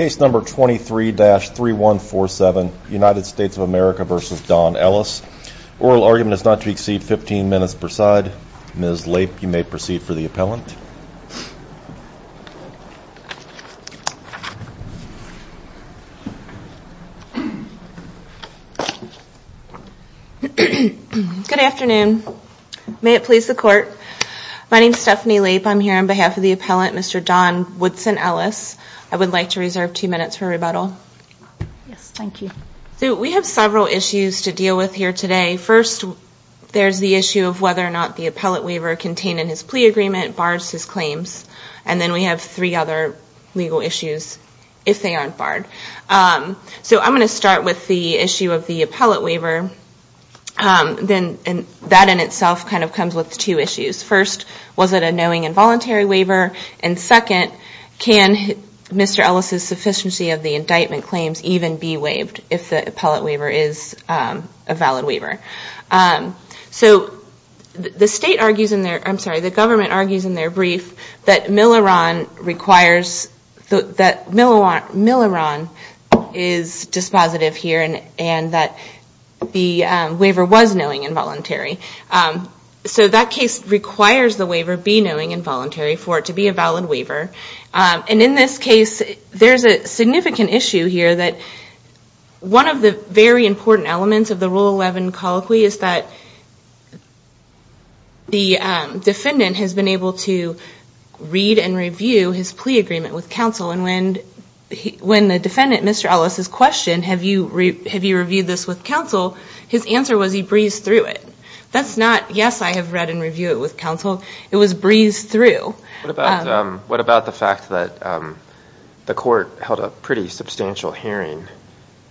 Oral argument is not to exceed 15 minutes per side. Ms. Lape, you may proceed for the appellant. Good afternoon. May it please the Court. My name is Stephanie Lape. I'm here on behalf of the appellant, Mr. Don Woodson Ellis. I would like to reserve two minutes for rebuttal. We have several issues to deal with here today. First, there's the issue of whether or not the appellate waiver contained in his plea agreement bars his claims. And then we have three other legal issues, if they aren't barred. So I'm going to start with the issue of the appellate waiver. That in itself kind of comes with two issues. First, was it a knowing and voluntary waiver? And second, can Mr. Ellis' sufficiency of the indictment claims even be waived if the appellate waiver is a valid waiver? So the state argues in their, I'm sorry, the government argues in their brief that Milleron requires, that Milleron is dispositive here and that the waiver was knowing and voluntary. So that case requires the waiver be knowing and voluntary for it to be a valid waiver. And in this case, there's a significant issue here that one of the very important elements of the Rule 11 colloquy is that the defendant has been able to read and review his plea agreement with counsel and when the defendant, Mr. Ellis, is questioned, have you reviewed this with counsel, his answer was he breezed through it. That's not, yes, I have read and reviewed it with counsel. It was breezed through. What about the fact that the court held a pretty substantial hearing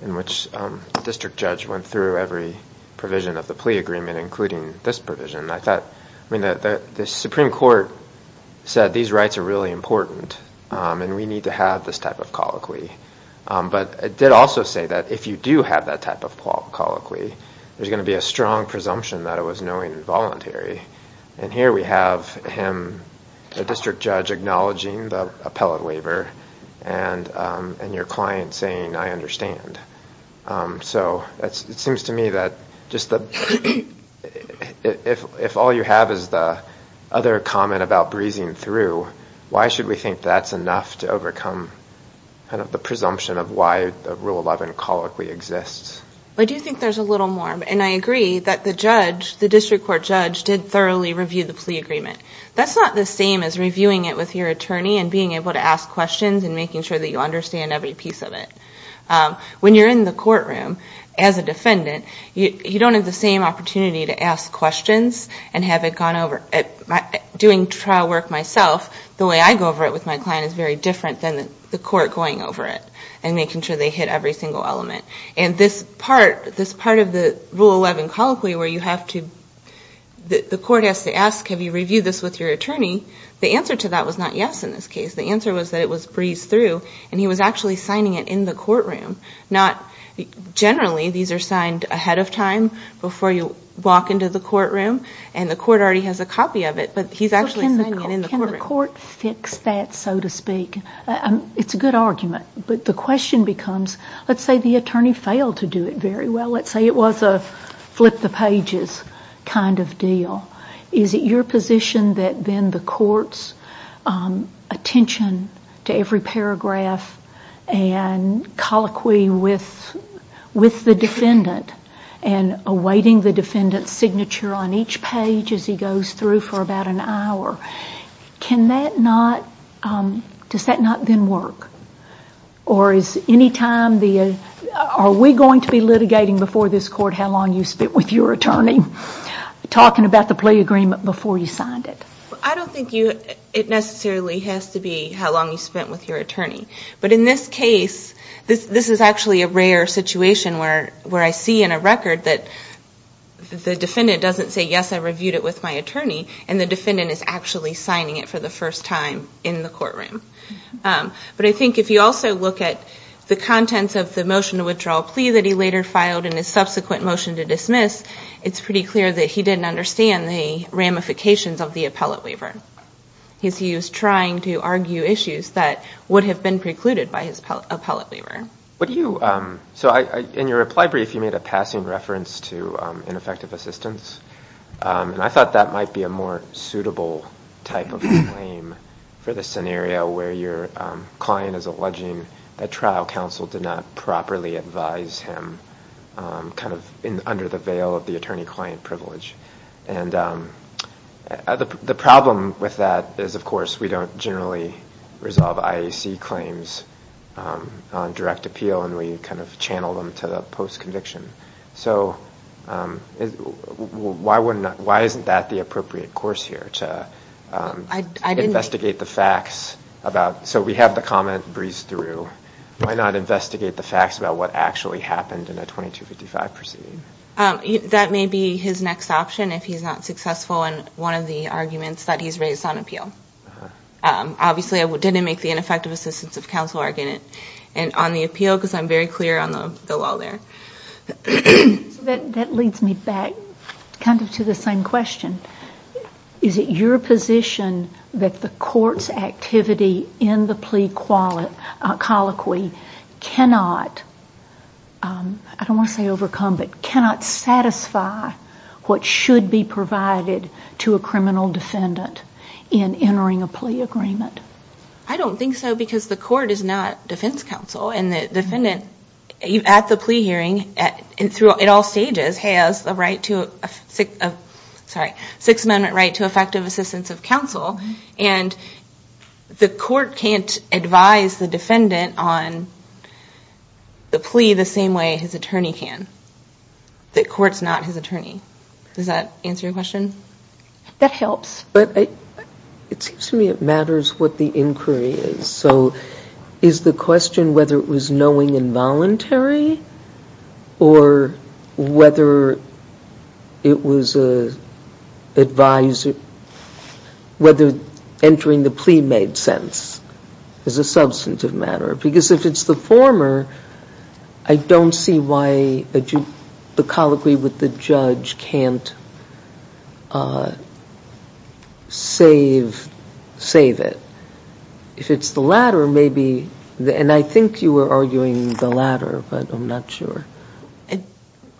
in which the district judge went through every provision of the plea agreement, including this provision? I thought, I mean, the Supreme Court said these rights are really important and we need to have this type of colloquy. But it did also say that if you do have that type of colloquy, there's going to be a strong presumption that it was knowing and voluntary. And here we have him, the district judge, acknowledging the appellate waiver and your client saying I understand. So it seems to me that if all you have is the other comment about breezing through, why should we think that's enough to overcome the presumption of why the Rule 11 colloquy exists? I do think there's a little more. And I agree that the judge, the district court judge, did thoroughly review the plea agreement. That's not the same as reviewing it with your attorney and being able to ask questions and making sure that you understand every piece of it. When you're in the courtroom as a defendant, you don't have the same opportunity to ask questions and have it gone over. Doing trial work myself, the way I go over it with my client is very different than the court going over it and making sure they hit every single element. And this part of the Rule 11 colloquy where you have to, the court has to ask, have you gone through and he was actually signing it in the courtroom. Not generally, these are signed ahead of time before you walk into the courtroom and the court already has a copy of it, but he's actually signing it in the courtroom. It's a good argument, but the question becomes, let's say the attorney failed to do it very well. Let's say it was a flip the pages kind of deal. Is it your position that then the court's attention to every paragraph and colloquy with the defendant and awaiting the defendant's signature on each page as he goes through for about an hour, can that not, does that not then work? Or is any time, are we going to be litigating before this court how long you spent with your attorney, talking about the plea agreement before you signed it? I don't think it necessarily has to be how long you spent with your attorney. But in this case, this is actually a rare situation where I see in a record that the defendant doesn't say, yes I reviewed it with my attorney, and the defendant is actually signing it for the first time in the courtroom. But I think if you also look at the contents of the motion to withdraw a plea that he later filed and his subsequent motion to dismiss, it's pretty clear that he didn't understand the ramifications of the appellate waiver. He was trying to argue issues that would have been precluded by his appellate waiver. In your reply brief you made a passing reference to ineffective assistance, and I thought that might be a more suitable type of claim for the scenario where your client is alleging that trial counsel did not properly advise him, kind of under the veil of the attorney-client privilege. And the problem with that is, of course, we don't generally resolve IAC claims on direct appeal, and we kind of channel them to the post-conviction. So why isn't that the appropriate course here, to investigate the facts about, so we have the comment breezed through, why not investigate the facts about what actually happened in a 2255 proceeding? That may be his next option if he's not successful in one of the arguments that he's raised on appeal. Obviously I didn't make the ineffective assistance of counsel argument on the appeal, because I'm very clear on the case law there. Is it your position that the court's activity in the plea colloquy cannot, I don't want to say overcome, but cannot satisfy what should be provided to a criminal defendant in entering a plea agreement? I don't think so, because the court is not defense counsel, and the defendant, at the plea hearing, at all stages, has a right to, sorry, Sixth Amendment right to effective assistance of counsel, and the court can't advise the defendant on the plea the same way his attorney can. The court's not his attorney. Does that answer your question? That helps. But it seems to me it matters what the inquiry is. So is the question whether it was knowing and voluntary, or whether it was advised, whether entering the plea made sense as a substantive matter? Because if it's the former, I don't see why the colloquy with the judge can't, I don't see why the plea made sense to save it. If it's the latter, maybe, and I think you were arguing the latter, but I'm not sure.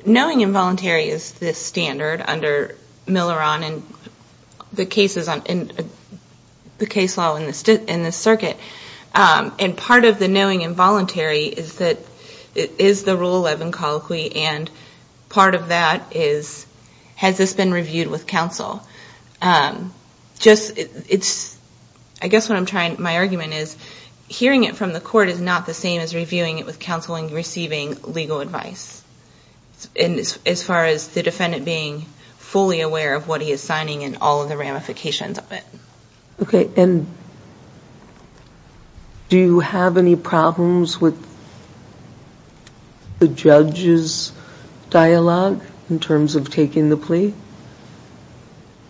Knowing and voluntary is the standard under Miller on the cases, the case law in this circuit, and part of the knowing and voluntary is that it is the Rule 11 colloquy, and part of that is, has this been reviewed with counsel? I guess what I'm trying, my argument is, hearing it from the court is not the same as reviewing it with counsel and receiving legal advice, as far as the defendant being fully aware of what he is signing and all of the ramifications of it. Okay, and do you have any problems with the judge's dialogue in terms of taking the plea?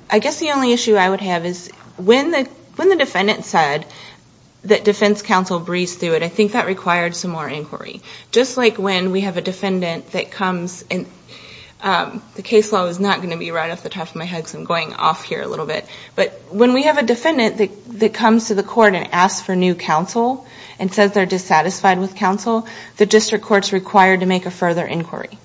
I guess the only issue I would have is when the defendant said that defense counsel breezed through it, I think that required some more inquiry. Just like when we have a defendant that comes, and the case law is not going to be right off the top of my head because I'm going off here a little bit, but when we have a defendant that comes to the court and asks for new counsel and says they're dissatisfied with counsel, the district court's required to make a further inquiry.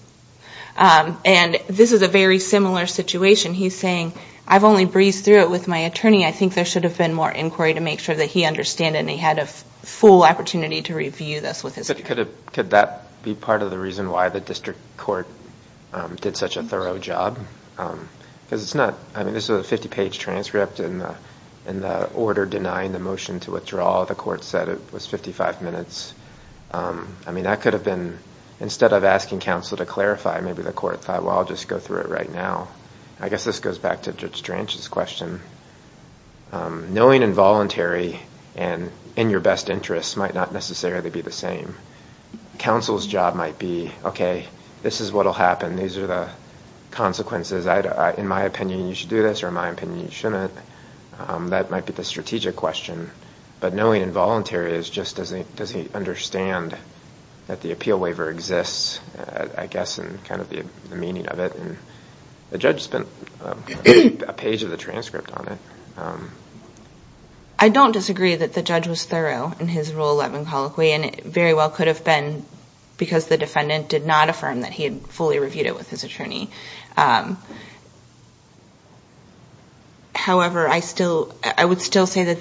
And this is a very similar situation. He's saying, I've only breezed through it with my attorney. I think there should have been more inquiry to make sure that he understood and he had a full opportunity to review this with his attorney. Could that be part of the reason why the district court did such a thorough job? Because it's not, I mean, this is a 50-page transcript, and the order denying the motion to withdraw, the court said it was 55 minutes. I mean, that could have been, instead of asking counsel to clarify, maybe the court thought, well, I'll just go through it right now. I guess this goes back to Judge Drench's question. Knowing involuntary and in your best interest might not necessarily be the same. Counsel's job might be, okay, this is what will happen. These are the consequences. In my opinion, you should do this, or in my opinion, you shouldn't. That might be the strategic question. But knowing involuntary just doesn't make me understand that the appeal waiver exists, I guess, and kind of the meaning of it. The judge spent a page of the transcript on it. I don't disagree that the judge was thorough in his rule 11 colloquy, and it very well could have been because the defendant did not affirm that he had fully reviewed it with his attorney. However, I would still say that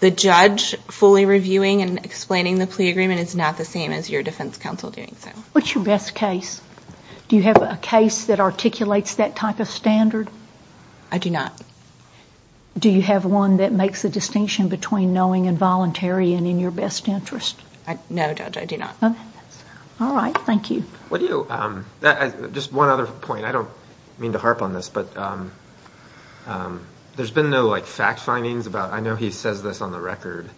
the reviewing and explaining the plea agreement is not the same as your defense counsel doing so. What's your best case? Do you have a case that articulates that type of standard? I do not. Do you have one that makes a distinction between knowing involuntary and in your best interest? No, Judge, I do not. All right. Thank you. Just one other point. I don't mean to harp on this, but there's been no fact findings about, I know he says this on the record,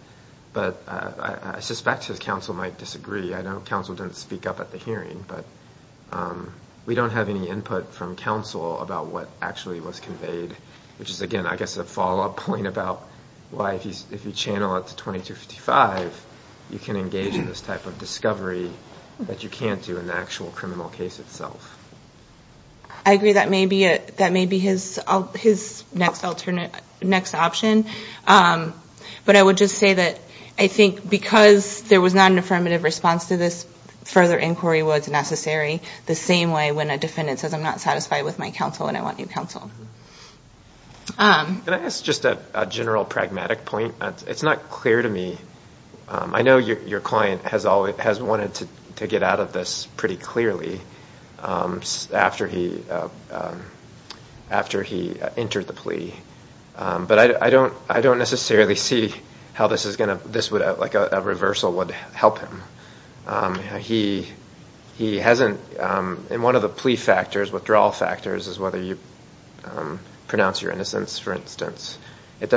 but I suspect his counsel might disagree. I know counsel didn't speak up at the hearing, but we don't have any input from counsel about what actually was conveyed, which is, again, I guess a follow-up point about why if you channel it to 2255, you can engage in this type of discovery that you can't do in the actual criminal case itself. I agree that may be his next option, but I would just say that I think because there was not an affirmative response to this further inquiry was necessary the same way when a defendant says, I'm not satisfied with my counsel and I want new counsel. Can I ask just a general pragmatic point? It's not clear to me. I know your client has wanted to get out of this pretty clearly after he entered the plea, but I don't necessarily see how a reversal would help him. One of the plea factors, withdrawal factors, is whether you pronounce your innocence, for instance. It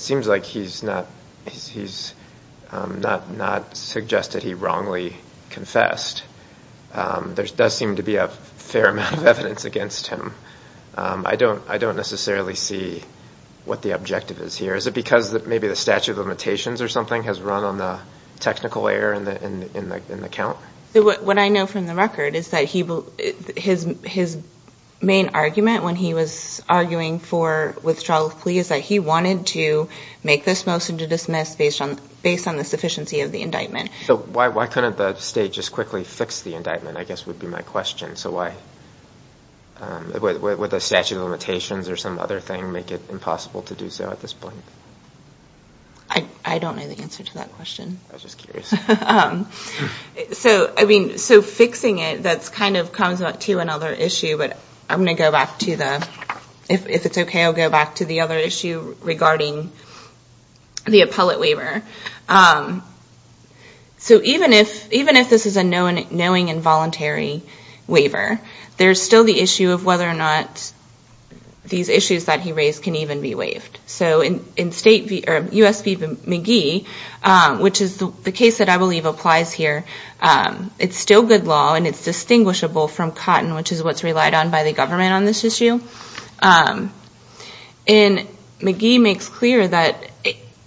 seems like he's not suggested he wrongly confessed. There does seem to be a fair amount of evidence against him. I don't necessarily see what the objective is here. Is it because maybe the statute of limitations or something has run on the technical error in the account? What I know from the record is that his main argument when he was arguing for withdrawal of plea is that he wanted to make this motion to dismiss based on the sufficiency of the indictment. Why couldn't the state just quickly fix the indictment, I guess would be my question. Would the statute of limitations or some other thing make it impossible to do so at this point? I don't know the answer to that question. So fixing it, that kind of comes up to another issue, but I'm going to go back to the other issue regarding the appellate waiver. So even if this is a knowing and voluntary waiver, there's still the issue of whether or not these issues that he raised can even be waived. So in U.S. v. McGee, which is the case that I believe applies here, it's still good law and it's distinguishable from cotton, which is what's relied on by the government on this issue. And McGee makes clear that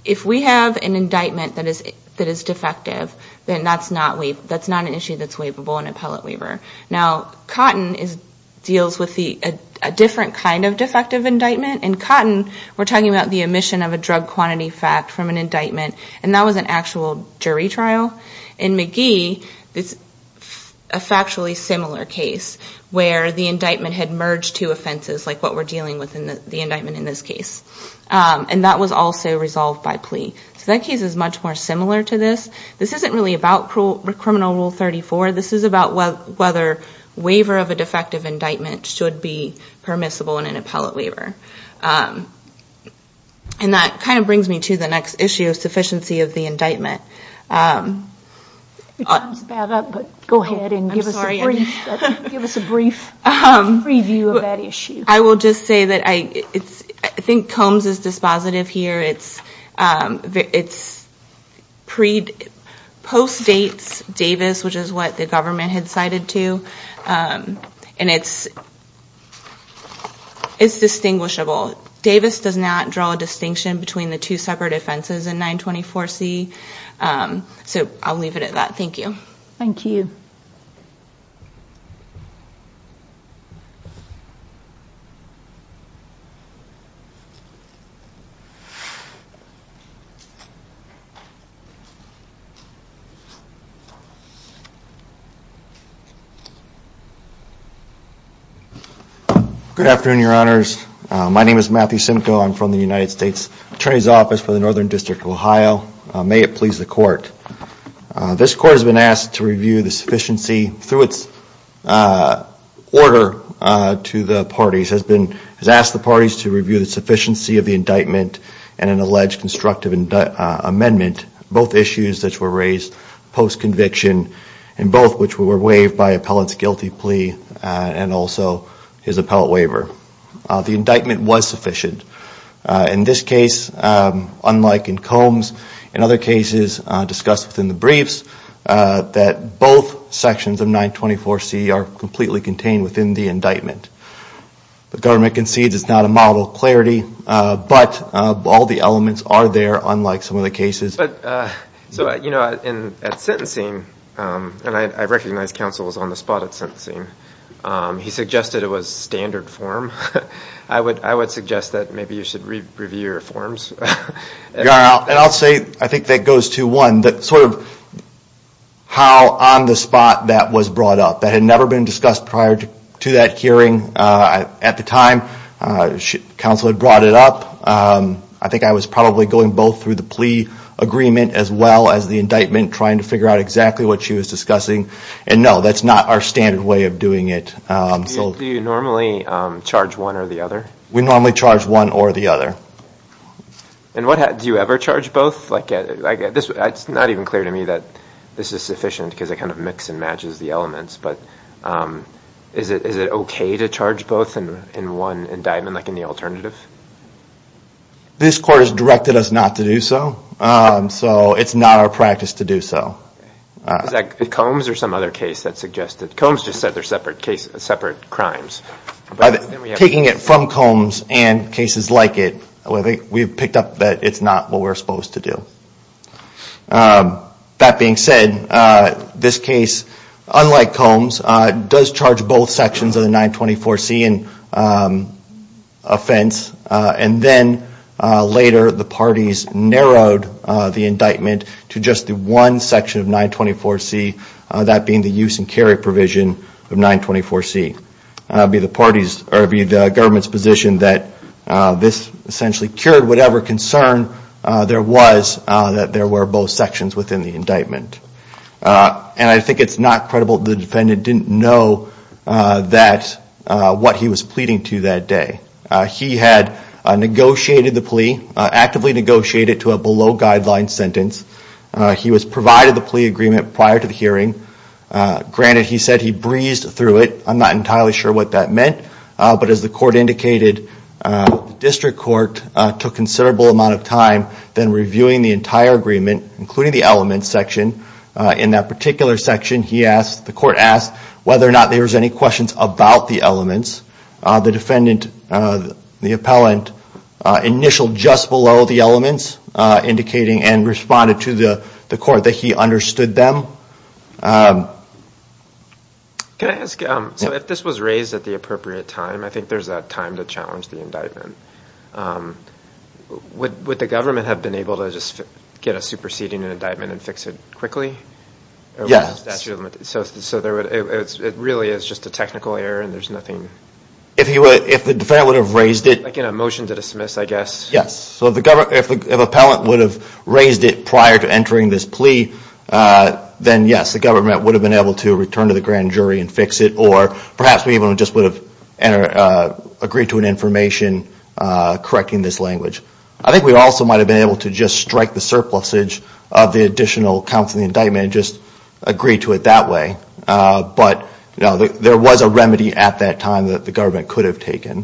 if we have an indictment that is defective, then that's not an issue that's waivable in appellate waiver. Now, cotton deals with a different kind of defective indictment. In cotton, we're talking about the omission of a drug quantity fact from an indictment, and that was an actual jury trial. In McGee, it's a factually similar case, where the indictment had merged two offenses, like what we're dealing with in the indictment in this case. And that was also resolved by plea. So that case is much more similar to this. So it's just a matter of whether waiver of a defective indictment should be permissible in an appellate waiver. And that kind of brings me to the next issue, sufficiency of the indictment. I will just say that I think Combs is dispositive here. It postdates Davis, which is what the government had cited to. And it's distinguishable. Davis does not draw a distinction between the two separate offenses in 924C. So I'll leave it at that. Thank you. Good afternoon, Your Honors. My name is Matthew Simcoe. I'm from the United States Attorney's Office for the Northern District of Ohio. May it please the Court. This Court has been asked to review the sufficiency, through its order to the parties, has been asked the parties to review the sufficiency of the indictment and an alleged constructive amendment, both issues that were raised post-conviction, and both which were waived by appellate's guilty plea and also his appellate waiver. The indictment was sufficient. In this case, unlike in Combs, in other cases discussed within the briefs, that both sections of 924C are completely contained within the indictment. The government concedes it's not a model of clarity, but all the elements are there, unlike some of the cases. I'm not sure if counsel was on the spot at sentencing. He suggested it was standard form. I would suggest that maybe you should review your forms. Yeah, and I'll say, I think that goes to one, that sort of how on the spot that was brought up. That had never been discussed prior to that hearing at the time. Counsel had brought it up. I think I was probably going both through the plea agreement as well as the indictment trying to figure out exactly what she was discussing. And no, that's not our standard way of doing it. Do you normally charge one or the other? We normally charge one or the other. Do you ever charge both? It's not even clear to me that this is sufficient because it kind of mixes and matches the elements, but is it okay to charge both in one indictment, like in the alternative? This court has directed us not to do so, so it's not our practice to do so. Is that Combs or some other case that suggested? Combs just said they're separate crimes. Taking it from Combs and cases like it, we've picked up that it's not what we're supposed to do. That being said, this case, unlike Combs, does charge both sections of the 924C in offense. And then later the parties narrowed the indictment to just the one section of 924C, that being the use and carry provision of 924C. It would be the government's position that this essentially cured whatever concern there was that there were both sections within the indictment. And I think it's not credible that the defendant didn't know what he was pleading to that day. He had negotiated the plea, actively negotiated to a below-guideline sentence. He was provided the plea agreement prior to the hearing. Granted, he said he breezed through it. I'm not entirely sure what that meant. But as the court indicated, the district court took a considerable amount of time than reviewing the entire agreement, including the elements section. In that particular section, the court asked whether or not there was any questions about the elements. The defendant, the appellant, initialed just below the elements, indicating and responded to the court that he understood them. Can I ask, so if this was raised at the appropriate time, I think there's that time to challenge the indictment. Would the government have been able to just get a superseding indictment and fix it quickly? Yes. So it really is just a technical error and there's nothing... If the defendant would have raised it... Like in a motion to dismiss, I guess. Yes. So if the appellant would have raised it prior to entering this plea, then yes, the government would have been able to return to the grand jury and fix it. Or perhaps we even just would have agreed to an information correcting this language. I think we also might have been able to just strike the surplusage of the additional counts in the indictment and just agree to it that way. But no, there was a remedy at that time that the government could have taken.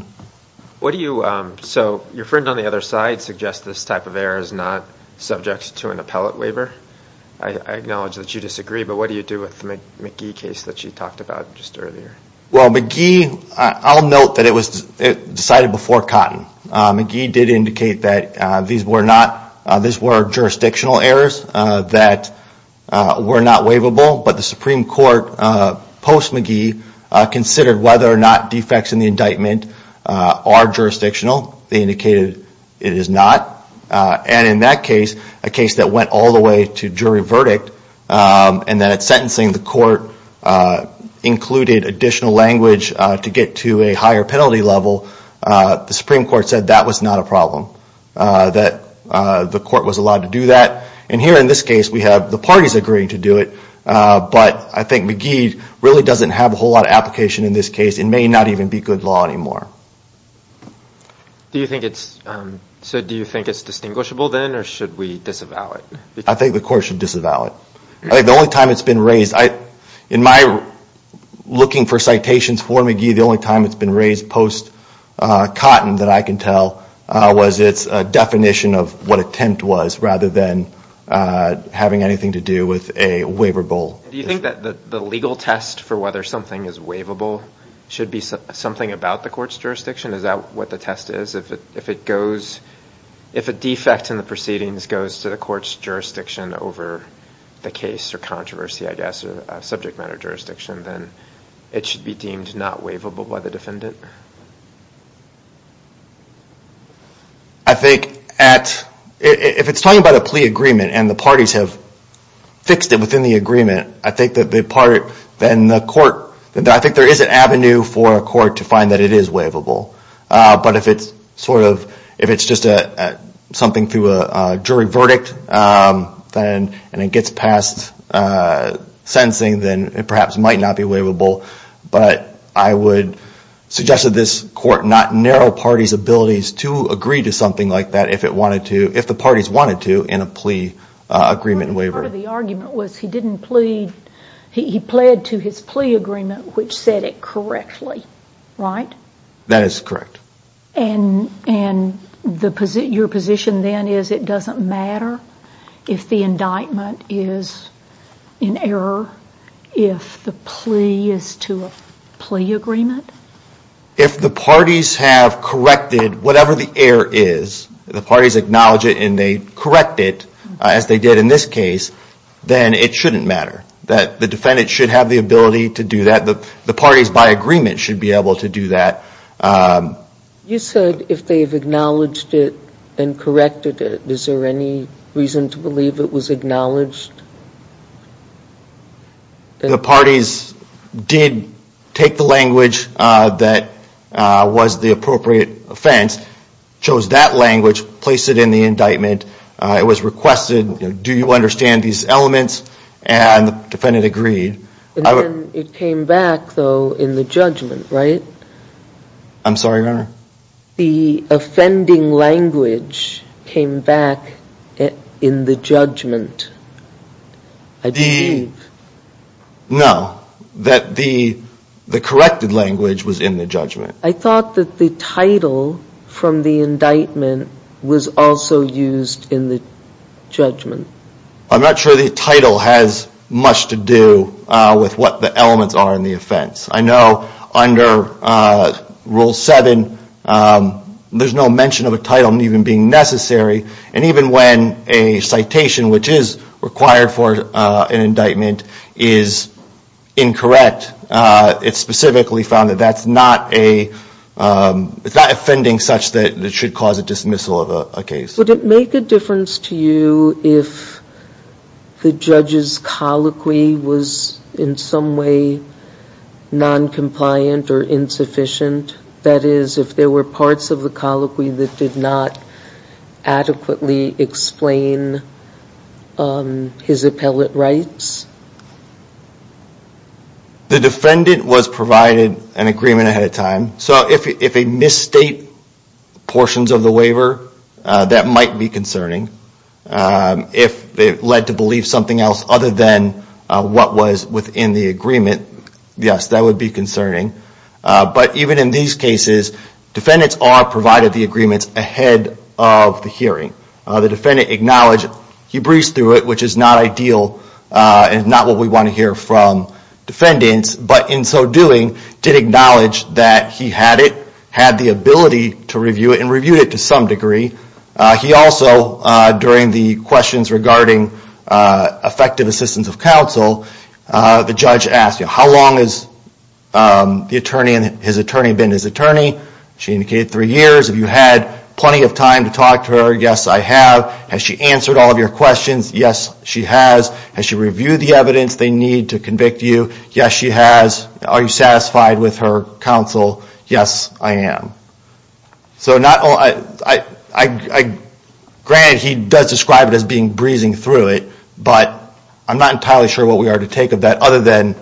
What do you... So your friend on the other side suggests this type of error is not subject to an appellate waiver. I acknowledge that you disagree, but what do you do with the McGee case that you talked about just earlier? Well, McGee... I'll note that it was decided before Cotton. McGee did indicate that these were jurisdictional errors that were not waivable. But the Supreme Court, post-McGee, considered whether or not defects in the indictment are jurisdictional. They indicated it is not. And in that case, a case that went all the way to jury verdict, and that at sentencing the court included additional language to get to a higher penalty level, the Supreme Court said that was not a problem, that the court was allowed to do that. And here in this case, we have the parties agreeing to do it, but I think McGee really doesn't have a whole lot of application in this case. It may not even be good law anymore. So do you think it's distinguishable then, or should we disavow it? I think the court should disavow it. In my looking for citations for McGee, the only time it's been raised post-Cotton that I can tell was its definition of what attempt was, rather than having anything to do with a waivable... Do you think that the legal test for whether something is waivable should be something about the court's jurisdiction? Is that what the test is? If a defect in the proceedings goes to the court's jurisdiction over the case or controversy, I guess, or subject matter jurisdiction, then it should be deemed not waivable by the defendant? I think if it's talking about a plea agreement, and the parties have fixed it within the agreement, then it should be deemed not waivable. I think there is an avenue for a court to find that it is waivable. But if it's just something through a jury verdict, and it gets past sentencing, then it perhaps might not be waivable. But I would suggest to this court not narrow parties' abilities to agree to something like that if the parties wanted to in a plea agreement waiver. Part of the argument was he pled to his plea agreement, which said it correctly, right? That is correct. And your position then is it doesn't matter if the indictment is in error if the plea is to a plea agreement? If the parties have corrected whatever the error is, the parties acknowledge it and they correct it, as they did in this case, then it shouldn't matter. The defendant should have the ability to do that. The parties, by agreement, should be able to do that. You said if they've acknowledged it and corrected it, is there any reason to believe it was acknowledged? The parties did take the language that was the appropriate offense, chose that language, placed it in the indictment. It was requested, do you understand these elements? And the defendant agreed. And then it came back, though, in the judgment, right? I'm sorry, Your Honor? The offending language came back in the judgment, I believe. No, that the corrected language was in the judgment. I thought that the title from the indictment was also used in the judgment. I'm not sure the title has much to do with what the elements are in the offense. I know under Rule 7, there's no mention of a title even being necessary. And even when a citation, which is required for an indictment, is incorrect, it specifically found that that's not a, it's not offending such that it should cause a dismissal of a case. Would it make a difference to you if the judge's colloquy was in some way noncompliant or insufficient? That is, if there were parts of the colloquy that did not adequately explain his appellate rights? The defendant was provided an agreement ahead of time. So if a misstate portions of the waiver, that might be concerning. If it led to believe something else other than what was within the agreement, yes, that would be concerning. But even in these cases, defendants are provided the agreements ahead of the hearing. The defendant acknowledged he breezed through it, which is not ideal and not what we want to hear from defendants. But in so doing, did acknowledge that he had it, had the ability to review it, and reviewed it to some degree. He also, during the questions regarding effective assistance of counsel, the judge asked, how long has the attorney and his attorney been his attorney? She indicated three years. Have you had plenty of time to talk to her? Yes, I have. Has she answered all of your questions? Yes, she has. Has she reviewed the evidence they need to convict you? Yes, she has. Are you satisfied with her counsel? Yes, I am. So not only, granted, he does describe it as being breezing through it, but I'm not entirely sure what we are to take of that other than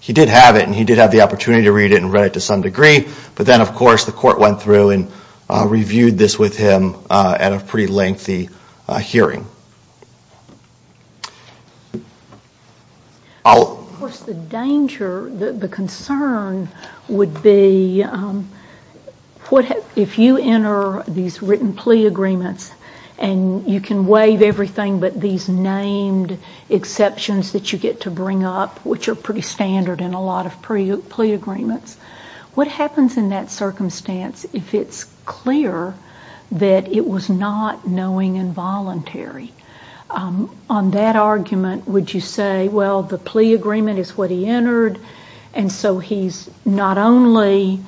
he did have it and he did have the opportunity to read it and read it to some degree. But then, of course, the court went through and reviewed this with him at a pretty lengthy hearing. Of course, the danger, the concern, would be, what if the defendant had not reviewed it? If you enter these written plea agreements and you can waive everything but these named exceptions that you get to bring up, which are pretty standard in a lot of plea agreements, what happens in that circumstance if it's clear that it was not knowing and voluntary? On that argument, would you say, well, the plea agreement is what he entered, and so he's not only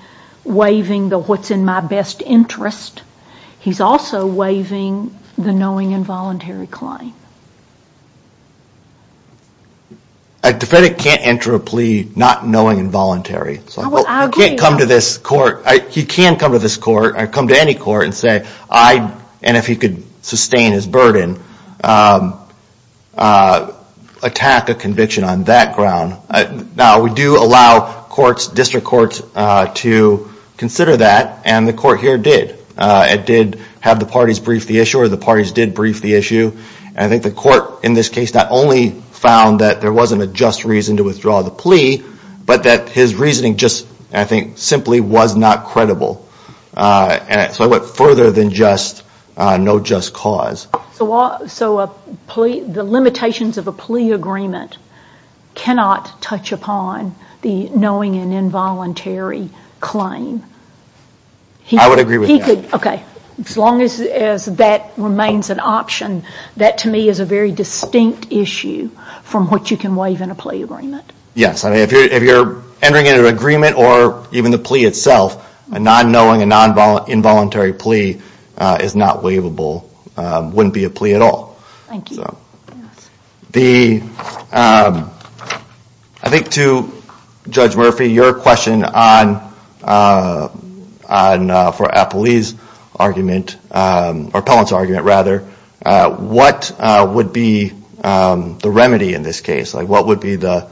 waiving the what's in my best interest, he's also waiving the knowing and voluntary claim? A defendant can't enter a plea not knowing and voluntary. He can come to this court or come to any court and say, and if he could sustain his burden, he can attack a conviction on that ground. Now, we do allow courts, district courts, to consider that, and the court here did. It did have the parties brief the issue, or the parties did brief the issue, and I think the court in this case not only found that there wasn't a just reason to withdraw the plea, but that his reasoning just, I think, simply was not credible. So it went further than just no just cause. So the limitations of a plea agreement cannot touch upon the knowing and involuntary claim? I would agree with that. As long as that remains an option, that to me is a very distinct issue from what you can waive in a plea agreement. Yes, if you're entering into an agreement or even the plea itself, a non-knowing, a non-involuntary plea is not waivable, wouldn't be a plea at all. I think to Judge Murphy, your question on, for Apolli's argument, or Pellant's argument rather, what would be the remedy in this case? What would be the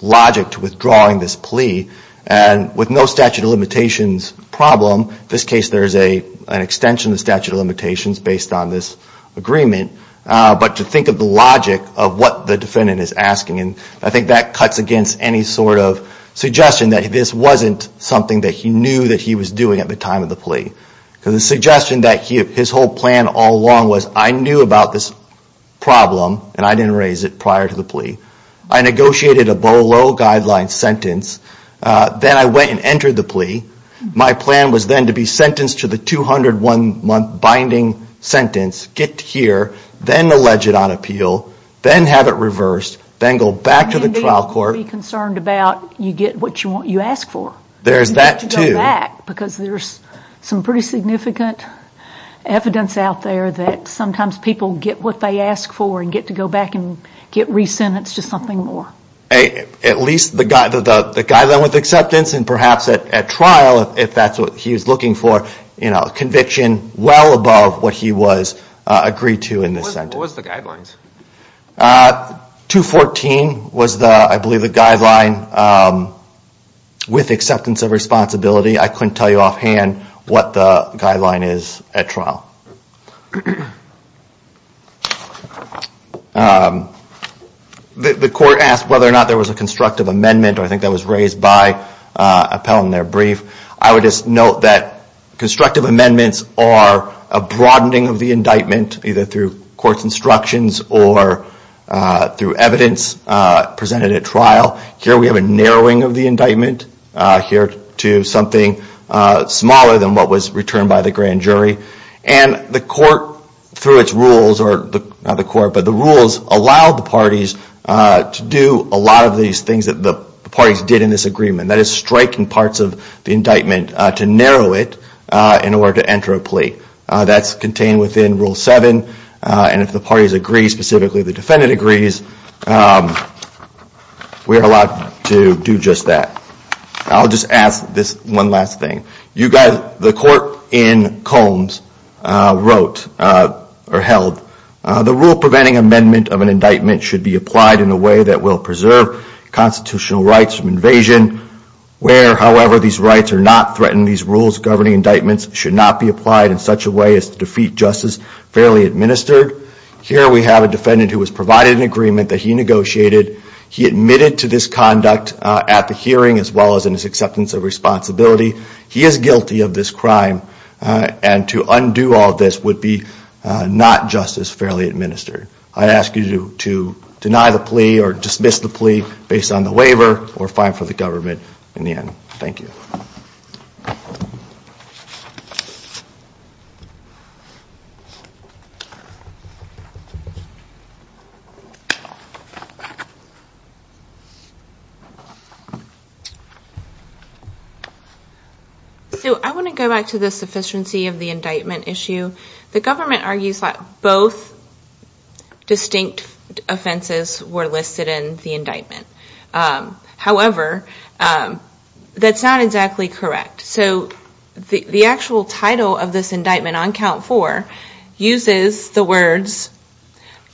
logic to withdrawing this plea? And with no statute of limitations problem, in this case there is an extension of the statute of limitations based on this agreement, but to think of the logic of what the defendant is asking, and I think that cuts against any sort of suggestion that this wasn't something that he knew that he was doing at the time of the plea. Because the suggestion that his whole plan all along was, I knew about this problem, and I didn't raise it prior to the plea, I negotiated a BOLO guideline sentence, then I went and entered the plea, my plan was then to be sentenced to the 201 month binding sentence, get here, then allege it on appeal, then have it reversed, then go back to the trial court. And be concerned about, you get what you ask for. You have to go back, because there's some pretty significant evidence out there that sometimes people get what they ask for, and get to go back and get re-sentenced to something more. At least the guideline with acceptance, and perhaps at trial, if that's what he was looking for, conviction well above what he was agreed to in this sentence. What was the guidelines? 214 was, I believe, the guideline with acceptance of responsibility. I couldn't tell you offhand what the guideline is at trial. The court asked whether or not there was a constructive amendment, I think that was raised by Appell in their brief. I would just note that constructive amendments are a broadening of the indictment, either through court's instructions or through evidence presented at trial. Here we have a narrowing of the indictment, to something smaller than what was returned by the grand jury. The rules allow the parties to do a lot of these things that the parties did in this agreement. That is, strike in parts of the indictment to narrow it in order to enter a plea. That's contained within Rule 7, and if the parties agree, specifically the defendant agrees, we are allowed to do just that. I'll just ask this one last thing. The court in Combs held, the Rule Preventing Amendment of an indictment should be applied in a way that will preserve constitutional rights from invasion, where, however, these rights are not threatened, these rules governing indictments should not be applied in such a way as to defeat justice fairly administered. Here we have a defendant who has provided an agreement that he negotiated. He admitted to this conduct at the hearing as well as in his acceptance of responsibility. He is guilty of this crime, and to undo all of this would be not justice fairly administered. I ask you to deny the plea or dismiss the plea based on the waiver or fine for the government in the end. Thank you. Sue, I want to go back to the sufficiency of the indictment issue. The government argues that both distinct offenses were listed in the indictment. However, that's not exactly correct. The actual title of this indictment on count four uses the words,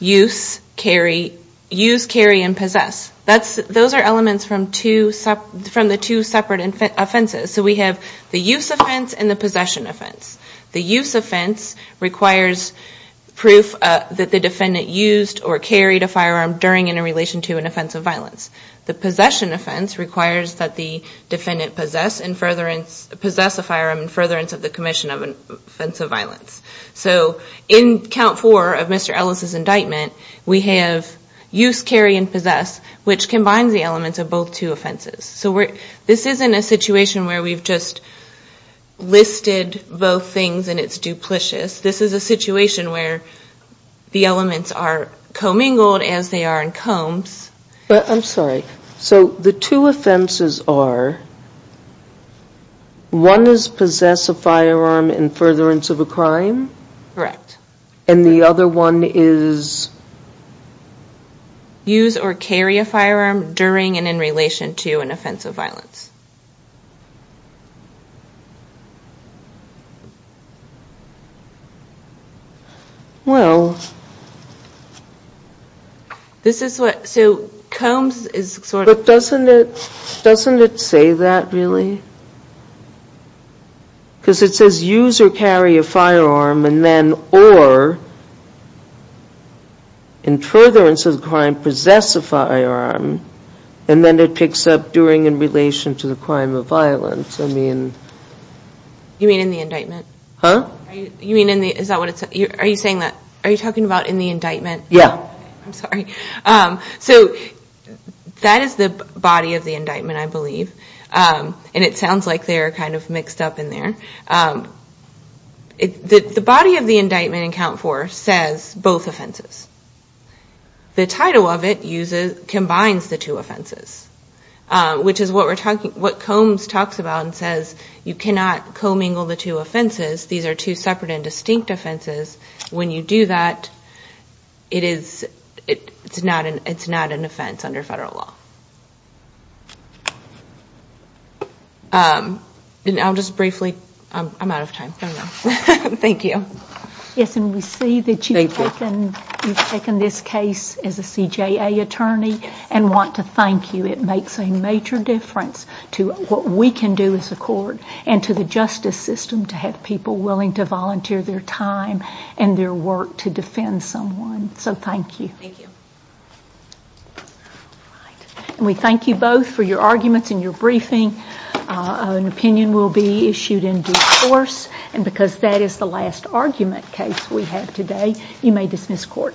use, carry, use, carry, and possess. Those are elements from the two separate offenses. We have the use offense and the possession offense. The use offense requires proof that the defendant used or carried a firearm during and in relation to an offense of violence. The possession offense requires that the defendant possess a firearm in furtherance of the commission of an offense of violence. So in count four of Mr. Ellis' indictment, we have use, carry, and possess, which combines the elements of both two offenses. So this isn't a situation where we've just listed both things and it's duplicious. This is a situation where the elements are commingled as they are in combs. I'm sorry. So the two offenses are one is possess a firearm in furtherance of a crime. Correct. And the other one is? Use or carry a firearm during and in relation to an offense of violence. Well. This is what, so combs is sort of. But doesn't it say that really? Because it says use or carry a firearm and then, or, in furtherance of the crime, possess a firearm, and then it picks up during in relation to the crime of violence. You mean in the indictment? Are you talking about in the indictment? Yeah. I'm sorry. So that is the body of the indictment, I believe, and it sounds like they're kind of mixed up in there. The body of the indictment in count four says both offenses. The title of it combines the two offenses, which is what combs talks about and says you cannot commingle the two offenses. These are two separate and distinct offenses. When you do that, it's not an offense under federal law. I'll just briefly, I'm out of time. Thank you. Yes, and we see that you've taken this case as a CJA attorney and want to thank you. It makes a major difference to what we can do as a court and to the justice system to have people willing to volunteer their time and their work to defend someone. So thank you. We thank you both for your arguments and your briefing. An opinion will be issued in due course, and because that is the last argument case we have today, you may dismiss court.